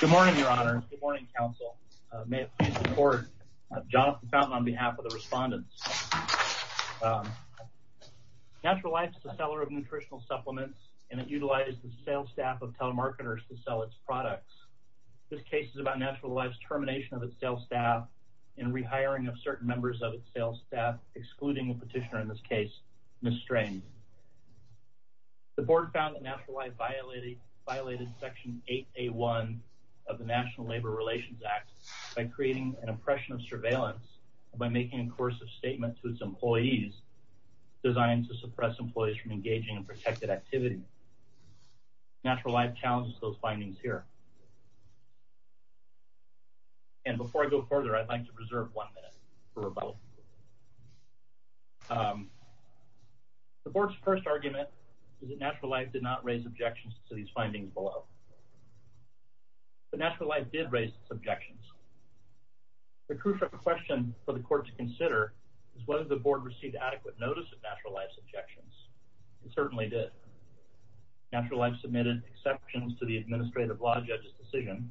Good morning, Your Honors. Good morning, Council. May it please the Board. Jonathan Fountain on behalf of the respondents. Natural Life is a seller of nutritional supplements, and it utilizes the sales staff of telemarketers to sell its products. This case is about Natural Life's termination of its sales staff and rehiring of certain members of its sales staff, excluding the petitioner in this case, Ms. Strange. The Board found that Natural Life violated Section 8A.1 of the National Labor Relations Act by creating an impression of surveillance and by making a coercive statement to its employees designed to suppress employees from engaging in protected activity. Natural Life challenges those findings here. And before I go further, I'd like to reserve one minute for rebuttal. The Board's first argument is that Natural Life did not raise objections to these findings below. But Natural Life did raise its objections. The crucial question for the Court to consider is whether the Board received adequate notice of Natural Life's objections. It certainly did. Natural Life submitted exceptions to the Administrative Law Judge's decision,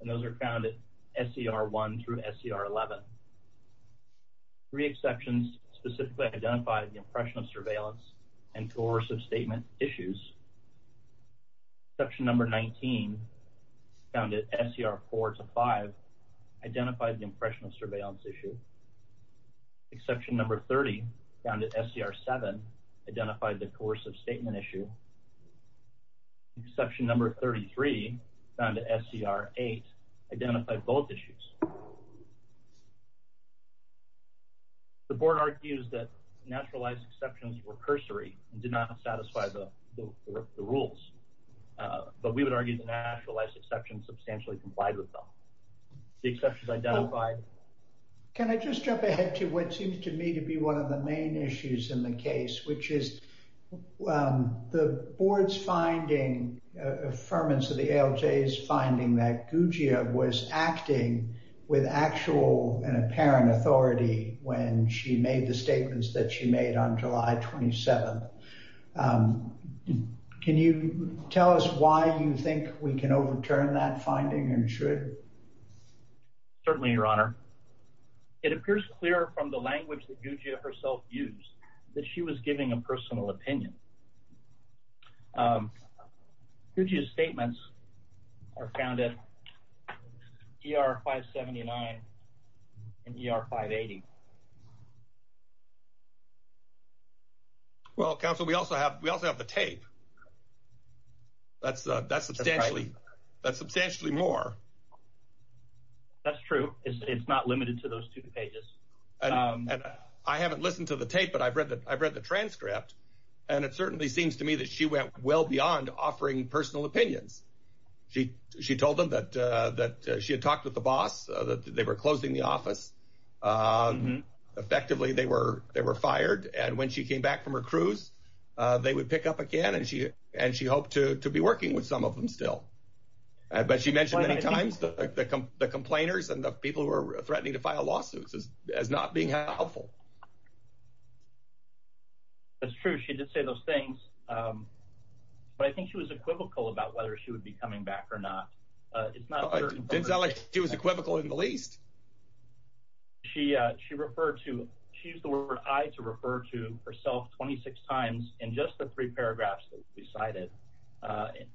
and those are found at SCR 1 through SCR 11. Three exceptions specifically identified the impression of surveillance and coercive statement issues. Exception number 19, found at SCR 4 to 5, identified the impression of surveillance issue. Exception number 30, found at SCR 7, identified the coercive statement issue. Exception number 33, found at SCR 8, identified both issues. The Board argues that Natural Life's exceptions were cursory and did not satisfy the rules. But we would argue that Natural Life's exceptions substantially complied with them. The exceptions identified. Can I just jump ahead to what seems to me to be one of the main issues in the case, which is the Board's finding, affirmance of the ALJ's finding that Guggia was acting with actual and apparent authority when she made the statements that she made on July 27th. Can you tell us why you think we can overturn that finding and should? Certainly, Your Honor. It appears clear from the language that Guggia herself used that she was giving a personal opinion. Guggia's statements are found at ER 579 and ER 580. Well, Counsel, we also have the tape. That's substantially more. That's true. It's not limited to those two pages. I haven't listened to the tape, but I've read the transcript, and it certainly seems to me that she went well beyond offering personal opinions. She told them that she had talked with the boss, that they were closing the office. Effectively, they were fired. And when she came back from her cruise, they would pick up again, and she hoped to be working with some of them still. But she mentioned many times the complainers and the people who were threatening to file lawsuits as not being helpful. That's true. She did say those things. But I think she was equivocal about whether she would be coming back or not. Didn't sound like she was equivocal in the least. She used the word I to refer to herself 26 times in just the three paragraphs that we cited.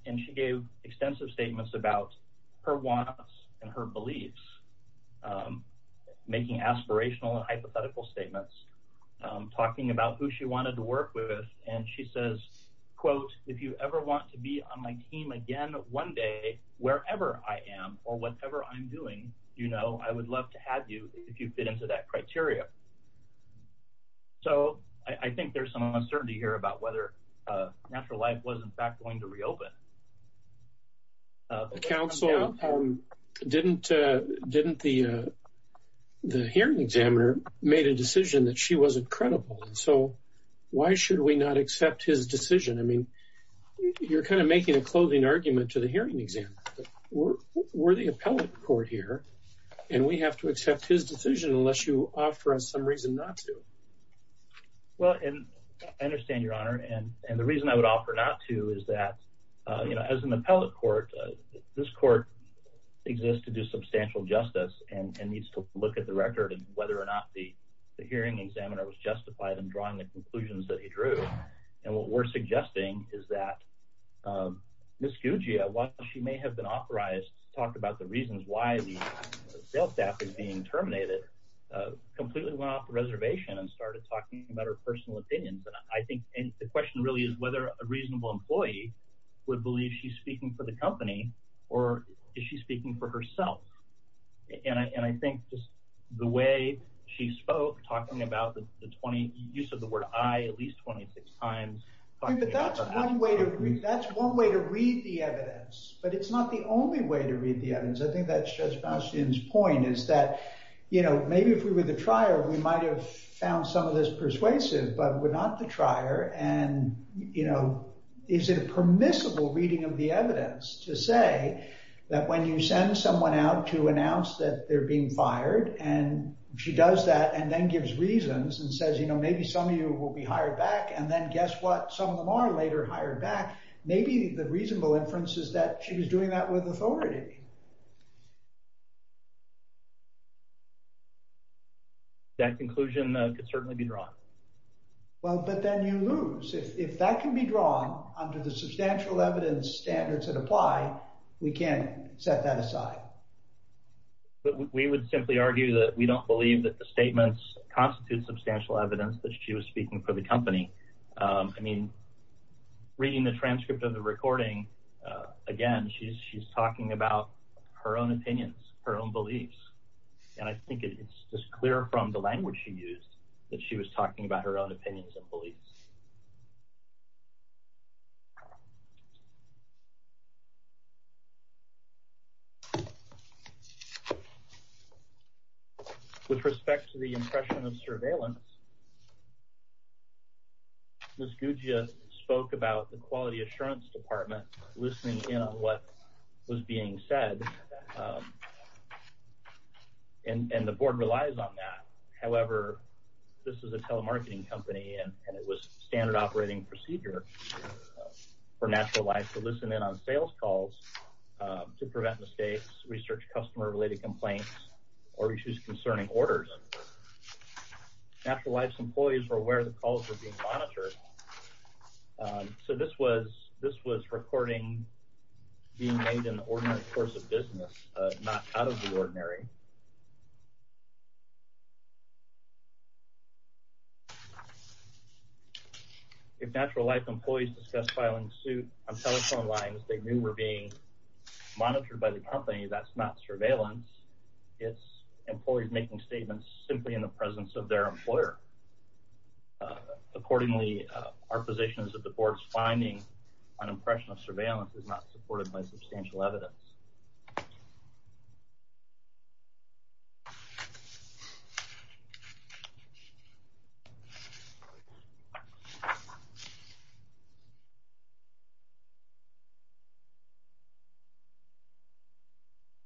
And she gave extensive statements about her wants and her beliefs, making aspirational and hypothetical statements, talking about who she wanted to work with. And she says, quote, if you ever want to be on my team again one day, wherever I am or whatever I'm doing, you know, I would love to have you if you fit into that criteria. So I think there's some uncertainty here about whether Natural Life was, in fact, going to reopen. The counsel didn't the hearing examiner made a decision that she wasn't credible. So why should we not accept his decision? I mean, you're kind of making a clothing argument to the hearing examiner. We're the appellate court here, and we have to accept his decision unless you offer us some reason not to. Well, and I understand your honor. And the reason I would offer not to is that, you know, as an appellate court, this court exists to do substantial justice and needs to look at the record and whether or not the hearing examiner was justified in drawing the conclusions that he drew. And what we're suggesting is that Ms. Guggia, while she may have been authorized to talk about the reasons why the sales staff is being terminated, completely went off the reservation and started talking about her personal opinions. And I think the question really is whether a reasonable employee would believe she's speaking for the company or is she speaking for herself? And I think just the way she spoke, talking about the 20 use of the word I at least 26 times. But that's one way to read. That's one way to read the evidence. But it's not the only way to read the evidence. I think that's Judge Bastian's point is that, you know, maybe if we were the trier, we might have found some of this persuasive, but we're not the trier. And, you know, is it a permissible reading of the evidence to say that when you send someone out to announce that they're being fired and she does that and then gives reasons and says, you know, maybe some of you will be hired back. And then guess what? Some of them are later hired back. Maybe the reasonable inference is that she was doing that with authority. That conclusion could certainly be drawn. Well, but then you lose. If that can be drawn under the substantial evidence standards that apply, we can't set that aside. But we would simply argue that we don't believe that the statements constitute substantial evidence that she was speaking for the company. I mean, reading the transcript of the recording, again, she's talking about her own opinions, her own beliefs. And I think it's just clear from the language she used that she was talking about her own opinions and beliefs. With respect to the impression of surveillance, Ms. Guggia spoke about the Quality Assurance Department loosening in on what was being said. And the board relies on that. However, this is a telemarketing company and it was standard operating procedure for Natural Life to loosen in on sales calls to prevent mistakes, research customer-related complaints, or issues concerning orders. Natural Life's employees were aware the calls were being monitored. So this was recording being made in the ordinary course of business, not out of the ordinary. If Natural Life employees discussed filing suit on telephone lines they knew were being monitored by the company, that's not surveillance. It's employees making statements simply in the presence of their employer. Accordingly, our position is that the board's finding on impression of surveillance is not supported by substantial evidence.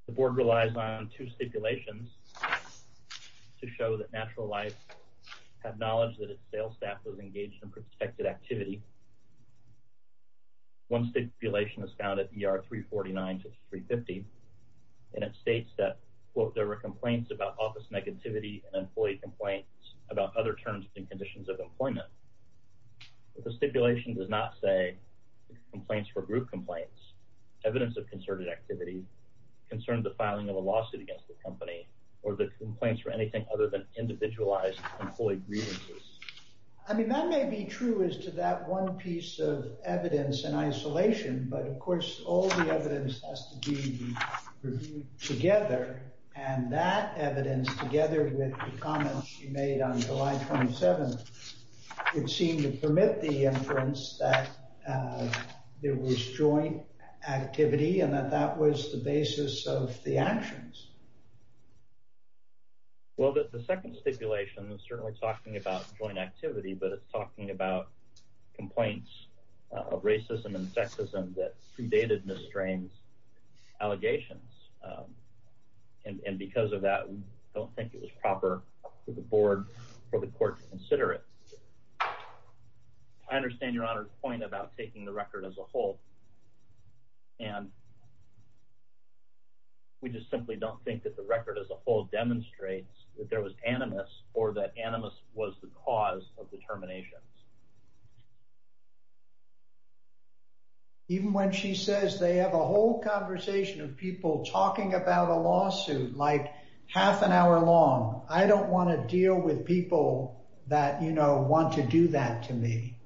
The board relies on two stipulations to show that Natural Life had knowledge that its sales staff was engaged in protected activity. One stipulation is found at ER 349-350 and it states that, quote, there were complaints about office negativity and employee complaints about other terms and conditions of employment. The stipulation does not say complaints were group complaints, evidence of concerted activity, concerns of filing a lawsuit against the company, or the complaints were anything other than individualized employee grievances. I mean, that may be true as to that one piece of evidence in isolation, but of course all the evidence has to be reviewed together. And that evidence, together with the comments you made on July 27th, would seem to permit the inference that there was joint activity and that that was the basis of the actions. Well, the second stipulation is certainly talking about joint activity, but it's talking about complaints of racism and sexism that predated Ms. Strain's allegations. And because of that, we don't think it was proper for the board or the court to consider it. I understand Your Honor's point about taking the record as a whole, and we just simply don't think that the record as a whole demonstrates that there was animus or that animus was the cause of the terminations. Even when she says they have a whole conversation of people talking about a lawsuit like half an hour long, I don't want to deal with people that, you know, want to do that to me.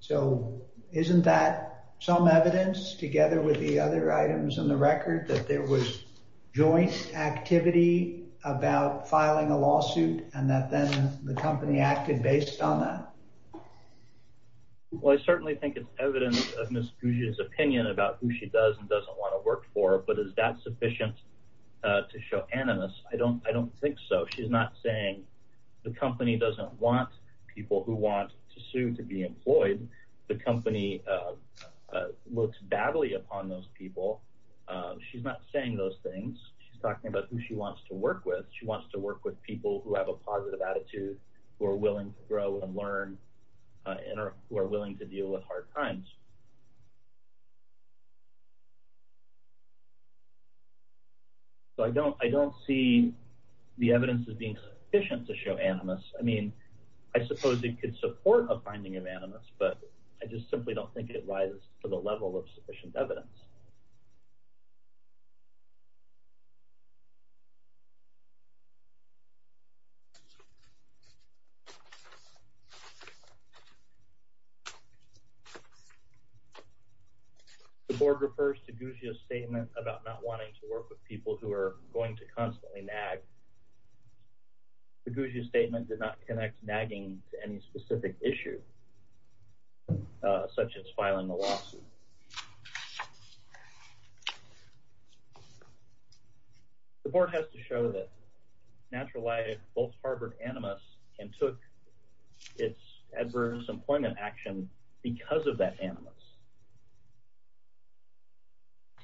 So isn't that some evidence, together with the other items in the record, that there was joint activity about filing a lawsuit and that then the company acted based on that? Well, I certainly think it's evidence of Ms. Guggia's opinion about who she does and doesn't want to work for, but is that sufficient to show animus? I don't think so. She's not saying the company doesn't want people who want to sue to be employed. The company looks badly upon those people. She's not saying those things. She's talking about who she wants to work with. She wants to work with people who have a positive attitude, who are willing to grow and learn, and who are willing to deal with hard times. So I don't see the evidence as being sufficient to show animus. I mean, I suppose it could support a finding of animus, but I just simply don't think it rises to the level of sufficient evidence. The board refers to Guggia's statement about not wanting to work with people who are going to constantly nag. Guggia's statement did not connect nagging to any specific issue, such as filing a lawsuit. The board has to show that Natural Light both harbored animus and took its adverse employment action because of that animus.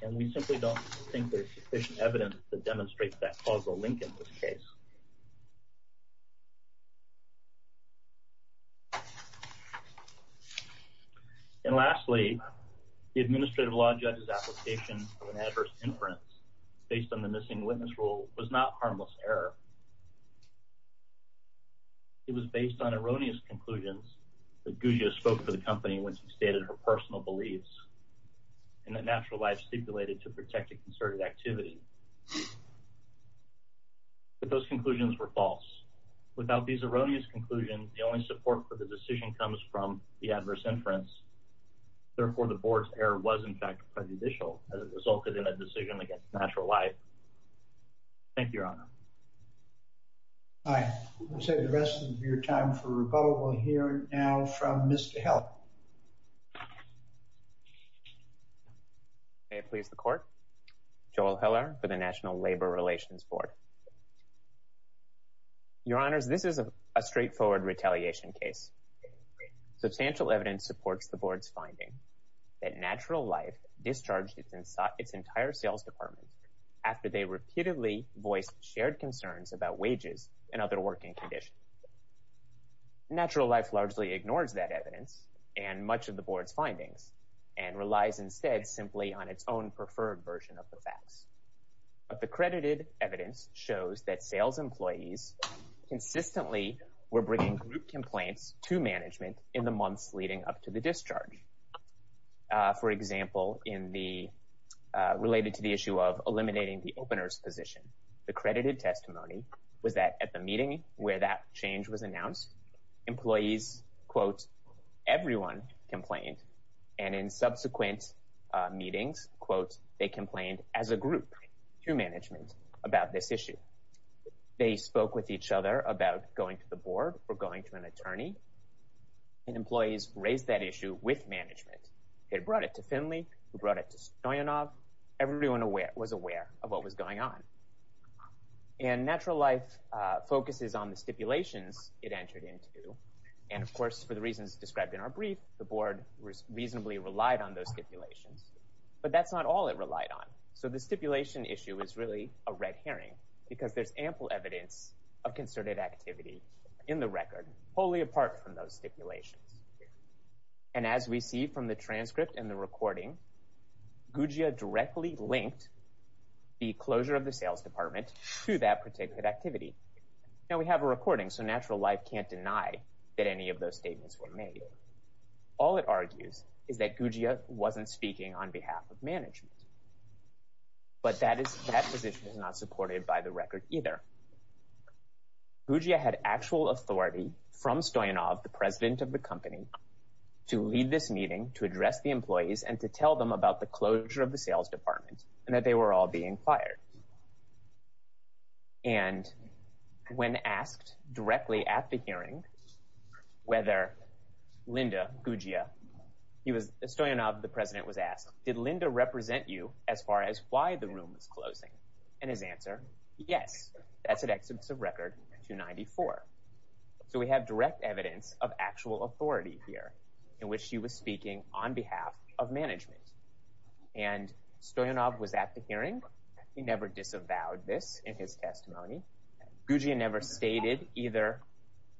And we simply don't think there's sufficient evidence to demonstrate that causal link in this case. And lastly, the administrative law judge's application of an adverse inference based on the missing witness rule was not harmless error. It was based on erroneous conclusions that Guggia spoke for the company when she stated her personal beliefs and that Natural Light stipulated to protect a concerted activity. But those conclusions were false. Without these erroneous conclusions, the only support for the decision comes from the adverse inference. Therefore, the board's error was, in fact, prejudicial as it resulted in a decision against Natural Light. Thank you, Your Honor. I would say the rest of your time for rebuttal we'll hear now from Mr. Heller. May it please the court. Joel Heller for the National Labor Relations Board. Your Honors, this is a straightforward retaliation case. Substantial evidence supports the board's finding that Natural Light discharged its entire sales department after they repeatedly voiced shared concerns about wages and other working conditions. Natural Light largely ignores that evidence and much of the board's findings and relies instead simply on its own preferred version of the facts. But the credited evidence shows that sales employees consistently were bringing group complaints to management in the months leading up to the discharge. For example, related to the issue of eliminating the opener's position, the credited testimony was that at the meeting where that change was announced, employees, quote, everyone complained. And in subsequent meetings, quote, they complained as a group to management about this issue. They spoke with each other about going to the board or going to an attorney. And employees raised that issue with management. They brought it to Finley. They brought it to Stoyanov. Everyone was aware of what was going on. And Natural Light focuses on the stipulations it entered into. And, of course, for the reasons described in our brief, the board reasonably relied on those stipulations. But that's not all it relied on. So the stipulation issue is really a red herring because there's ample evidence of concerted activity in the record wholly apart from those stipulations. And as we see from the transcript and the recording, GUGIA directly linked the closure of the sales department to that particular activity. Now, we have a recording, so Natural Light can't deny that any of those statements were made. All it argues is that GUGIA wasn't speaking on behalf of management. But that position is not supported by the record either. GUGIA had actual authority from Stoyanov, the president of the company, to lead this meeting, to address the employees, and to tell them about the closure of the sales department and that they were all being fired. And when asked directly at the hearing whether Linda, GUGIA, he was – Stoyanov, the president, was asked, did Linda represent you as far as why the room was closing? And his answer, yes, that's at Exhibits of Record 294. So we have direct evidence of actual authority here in which she was speaking on behalf of management. And Stoyanov was at the hearing. He never disavowed this in his testimony. GUGIA never stated either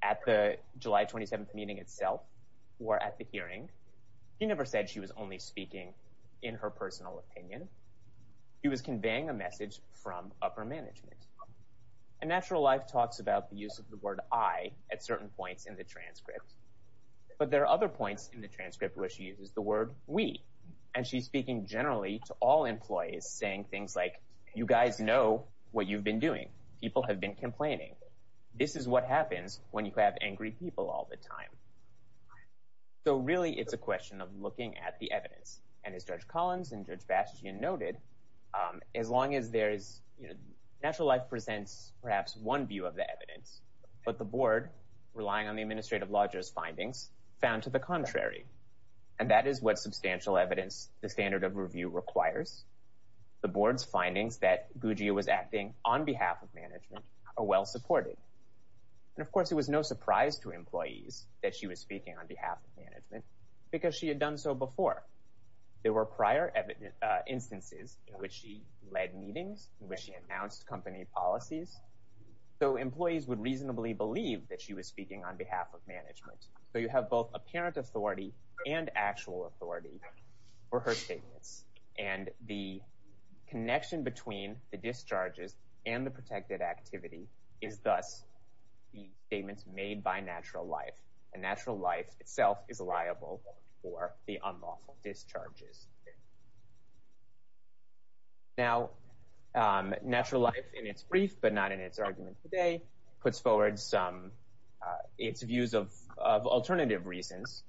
at the July 27th meeting itself or at the hearing. He never said she was only speaking in her personal opinion. He was conveying a message from upper management. And Natural Light talks about the use of the word I at certain points in the transcript. But there are other points in the transcript where she uses the word we. And she's speaking generally to all employees, saying things like, you guys know what you've been doing. People have been complaining. This is what happens when you have angry people all the time. So really it's a question of looking at the evidence. And as Judge Collins and Judge Bastian noted, as long as there is – Natural Light presents perhaps one view of the evidence, but the board, relying on the administrative lodger's findings, found to the contrary. And that is what substantial evidence the standard of review requires. The board's findings that GUGIA was acting on behalf of management are well supported. And of course it was no surprise to employees that she was speaking on behalf of management because she had done so before. There were prior instances in which she led meetings, in which she announced company policies. So employees would reasonably believe that she was speaking on behalf of management. So you have both apparent authority and actual authority for her statements. And the connection between the discharges and the protected activity is thus the statements made by Natural Life. And Natural Life itself is liable for the unlawful discharges. Now, Natural Life in its brief, but not in its argument today, puts forward its views of alternative reasons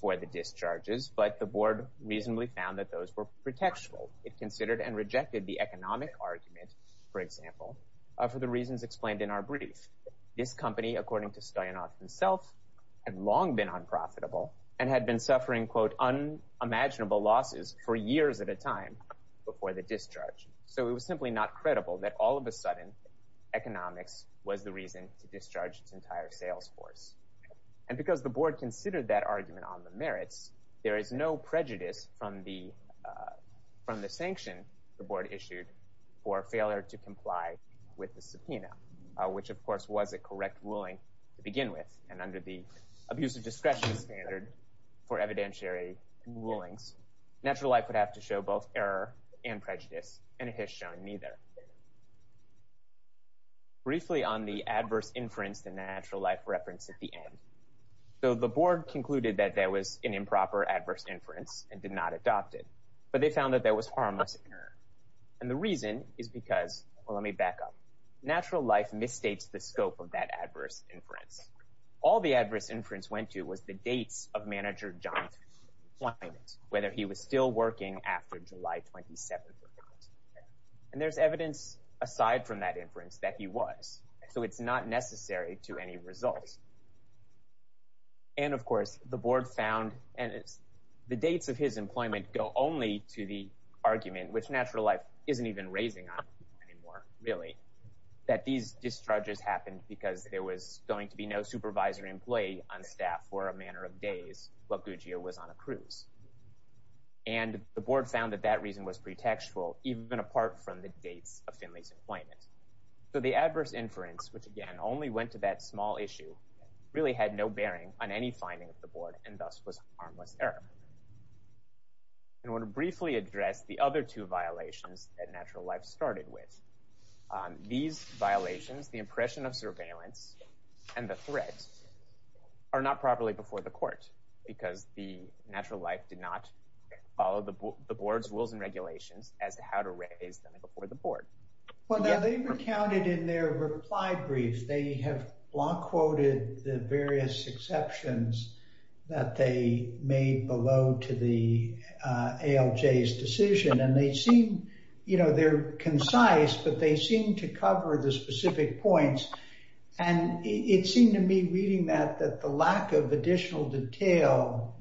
for the discharges. But the board reasonably found that those were protectional. It considered and rejected the economic argument, for example, for the reasons explained in our brief. This company, according to Stoyanov himself, had long been unprofitable and had been suffering, quote, unimaginable losses for years at a time before the discharge. So it was simply not credible that all of a sudden economics was the reason to discharge its entire sales force. And because the board considered that argument on the merits, there is no prejudice from the sanction the board issued for failure to comply with the subpoena, which, of course, was a correct ruling to begin with. And under the abuse of discretion standard for evidentiary rulings, Natural Life would have to show both error and prejudice, and it has shown neither. Briefly on the adverse inference that Natural Life referenced at the end. So the board concluded that there was an improper adverse inference and did not adopt it. But they found that there was harmless error. And the reason is because – well, let me back up. Natural Life misstates the scope of that adverse inference. All the adverse inference went to was the dates of Manager John's employment, whether he was still working after July 27th or not. And there's evidence, aside from that inference, that he was. So it's not necessary to any result. And, of course, the board found – and the dates of his employment go only to the argument, which Natural Life isn't even raising on anymore, really, that these discharges happened because there was going to be no supervisor employee on staff for a matter of days while Guggio was on a cruise. And the board found that that reason was pretextual, even apart from the dates of Finley's employment. So the adverse inference, which, again, only went to that small issue, really had no bearing on any finding of the board and thus was harmless error. I want to briefly address the other two violations that Natural Life started with. These violations, the impression of surveillance and the threat, are not properly before the court because the Natural Life did not follow the board's rules and regulations as to how to raise them before the board. Well, now, they recounted in their reply brief. They have block quoted the various exceptions that they made below to the ALJ's decision. And they seem – you know, they're concise, but they seem to cover the specific points. And it seemed to me, reading that, that the lack of additional detail,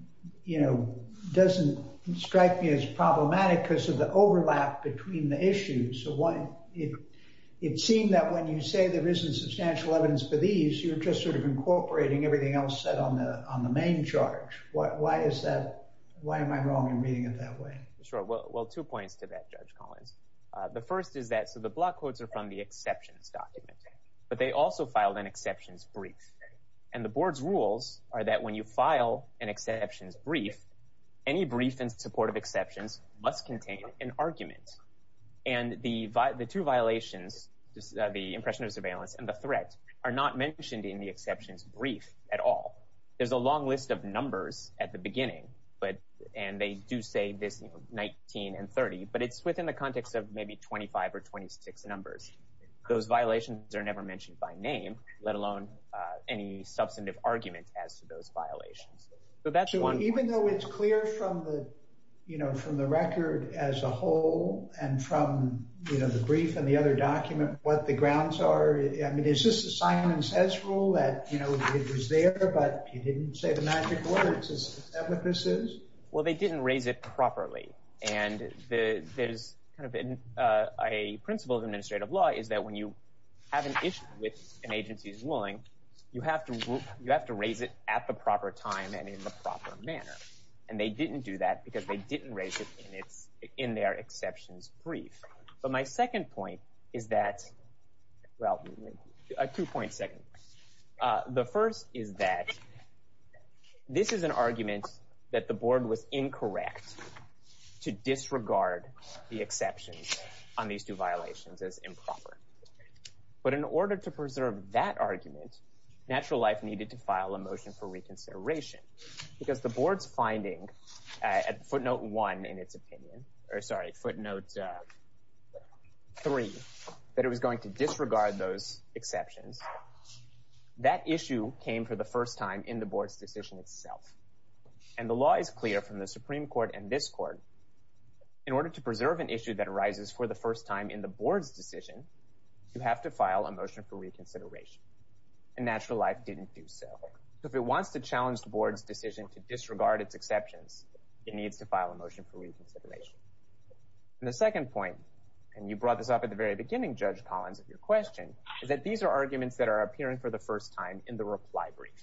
you know, doesn't strike me as problematic because of the overlap between the issues. So why – it seemed that when you say there isn't substantial evidence for these, you're just sort of incorporating everything else set on the main charge. Why is that – why am I wrong in reading it that way? Sure. Well, two points to that, Judge Collins. The first is that – so the block quotes are from the exceptions document, but they also filed an exceptions brief. And the board's rules are that when you file an exceptions brief, any brief in support of exceptions must contain an argument. And the two violations, the impression of surveillance and the threat, are not mentioned in the exceptions brief at all. There's a long list of numbers at the beginning, and they do say 19 and 30, but it's within the context of maybe 25 or 26 numbers. Those violations are never mentioned by name, let alone any substantive argument as to those violations. So even though it's clear from the – you know, from the record as a whole and from, you know, the brief and the other document what the grounds are, I mean, is this assignment as rule that, you know, it was there, but you didn't say the magic words? Is that what this is? Well, they didn't raise it properly. And there's kind of a principle of administrative law is that when you have an issue with an agency's ruling, you have to raise it at the proper time and in the proper manner. And they didn't do that because they didn't raise it in their exceptions brief. But my second point is that – well, a two-point second. The first is that this is an argument that the board was incorrect to disregard the exceptions on these two violations as improper. But in order to preserve that argument, Natural Life needed to file a motion for reconsideration because the board's finding at footnote one in its opinion – or sorry, footnote three, that it was going to disregard those exceptions. That issue came for the first time in the board's decision itself. And the law is clear from the Supreme Court and this court. In order to preserve an issue that arises for the first time in the board's decision, you have to file a motion for reconsideration. And Natural Life didn't do so. So if it wants to challenge the board's decision to disregard its exceptions, it needs to file a motion for reconsideration. And the second point – and you brought this up at the very beginning, Judge Collins, of your question – is that these are arguments that are appearing for the first time in the reply brief.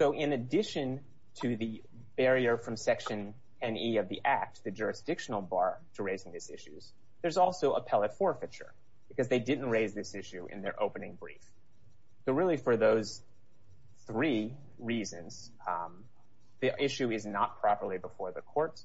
So in addition to the barrier from Section 10e of the Act, the jurisdictional bar to raising these issues, there's also appellate forfeiture because they didn't raise this issue in their opening brief. So really for those three reasons, the issue is not properly before the court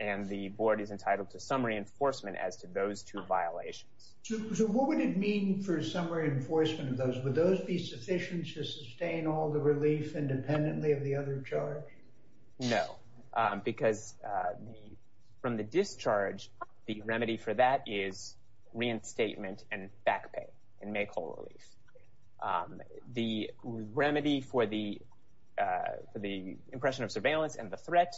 and the board is entitled to some reinforcement as to those two violations. So what would it mean for some reinforcement of those? Would those be sufficient to sustain all the relief independently of the other charge? No, because from the discharge, the remedy for that is reinstatement and back pay and make whole relief. The remedy for the impression of surveillance and the threat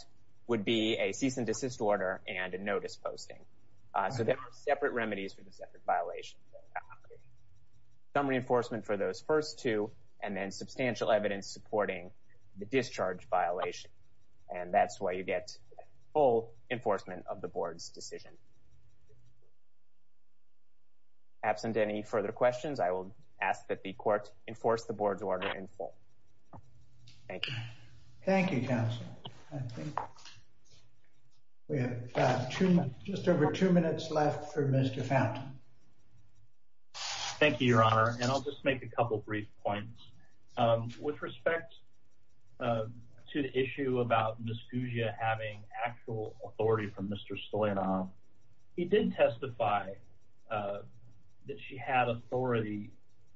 would be a cease and desist order and a notice posting. So there are separate remedies for the separate violations. Some reinforcement for those first two and then substantial evidence supporting the discharge violation. And that's why you get full enforcement of the board's decision. Absent any further questions, I will ask that the court enforce the board's order in full. Thank you. Thank you, counsel. We have just over two minutes left for Mr. Fountain. Thank you, Your Honor. And I'll just make a couple of brief points. With respect to the issue about Ms. Guggia having actual authority from Mr. Stoyanov, he did testify that she had authority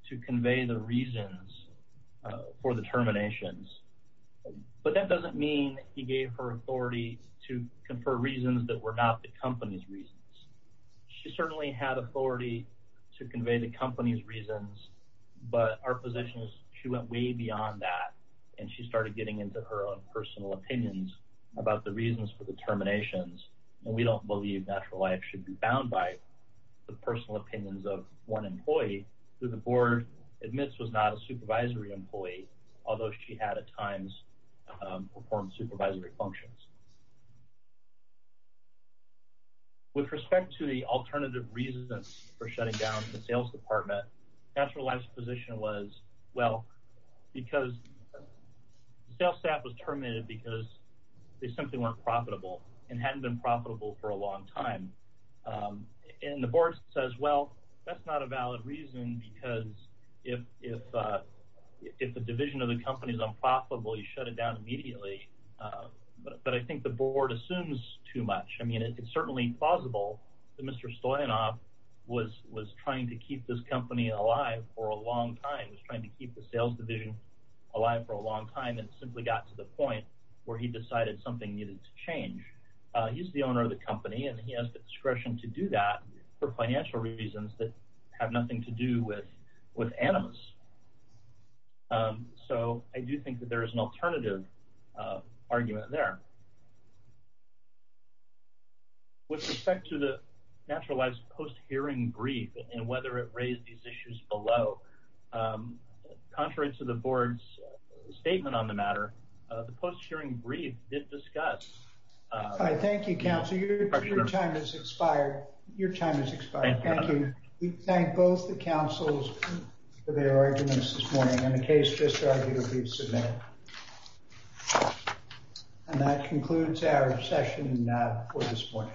to convey the reasons for the terminations. But that doesn't mean he gave her authority to confer reasons that were not the company's reasons. She certainly had authority to convey the company's reasons, but our position is she went way beyond that, and she started getting into her own personal opinions about the reasons for the terminations. And we don't believe natural life should be bound by the personal opinions of one employee who the board admits was not a supervisory employee, although she had at times performed supervisory functions. With respect to the alternative reasons for shutting down the sales department, natural life's position was, well, because the sales staff was terminated because they simply weren't profitable and hadn't been profitable for a long time. And the board says, well, that's not a valid reason because if the division of the company is unprofitable, you shut it down immediately. But I think the board assumes too much. I mean, it's certainly plausible that Mr. Stoyanov was trying to keep this company alive for a long time, was trying to keep the sales division alive for a long time, and simply got to the point where he decided something needed to change. He's the owner of the company, and he has the discretion to do that for financial reasons that have nothing to do with animus. So I do think that there is an alternative argument there. With respect to the natural life's post-hearing brief and whether it raised these issues below, contrary to the board's statement on the matter, the post-hearing brief did discuss. All right. Thank you, counsel. Your time has expired. Your time has expired. Thank you. We thank both the counsels for their arguments this morning. And the case just argued will be submitted. And that concludes our session for this morning.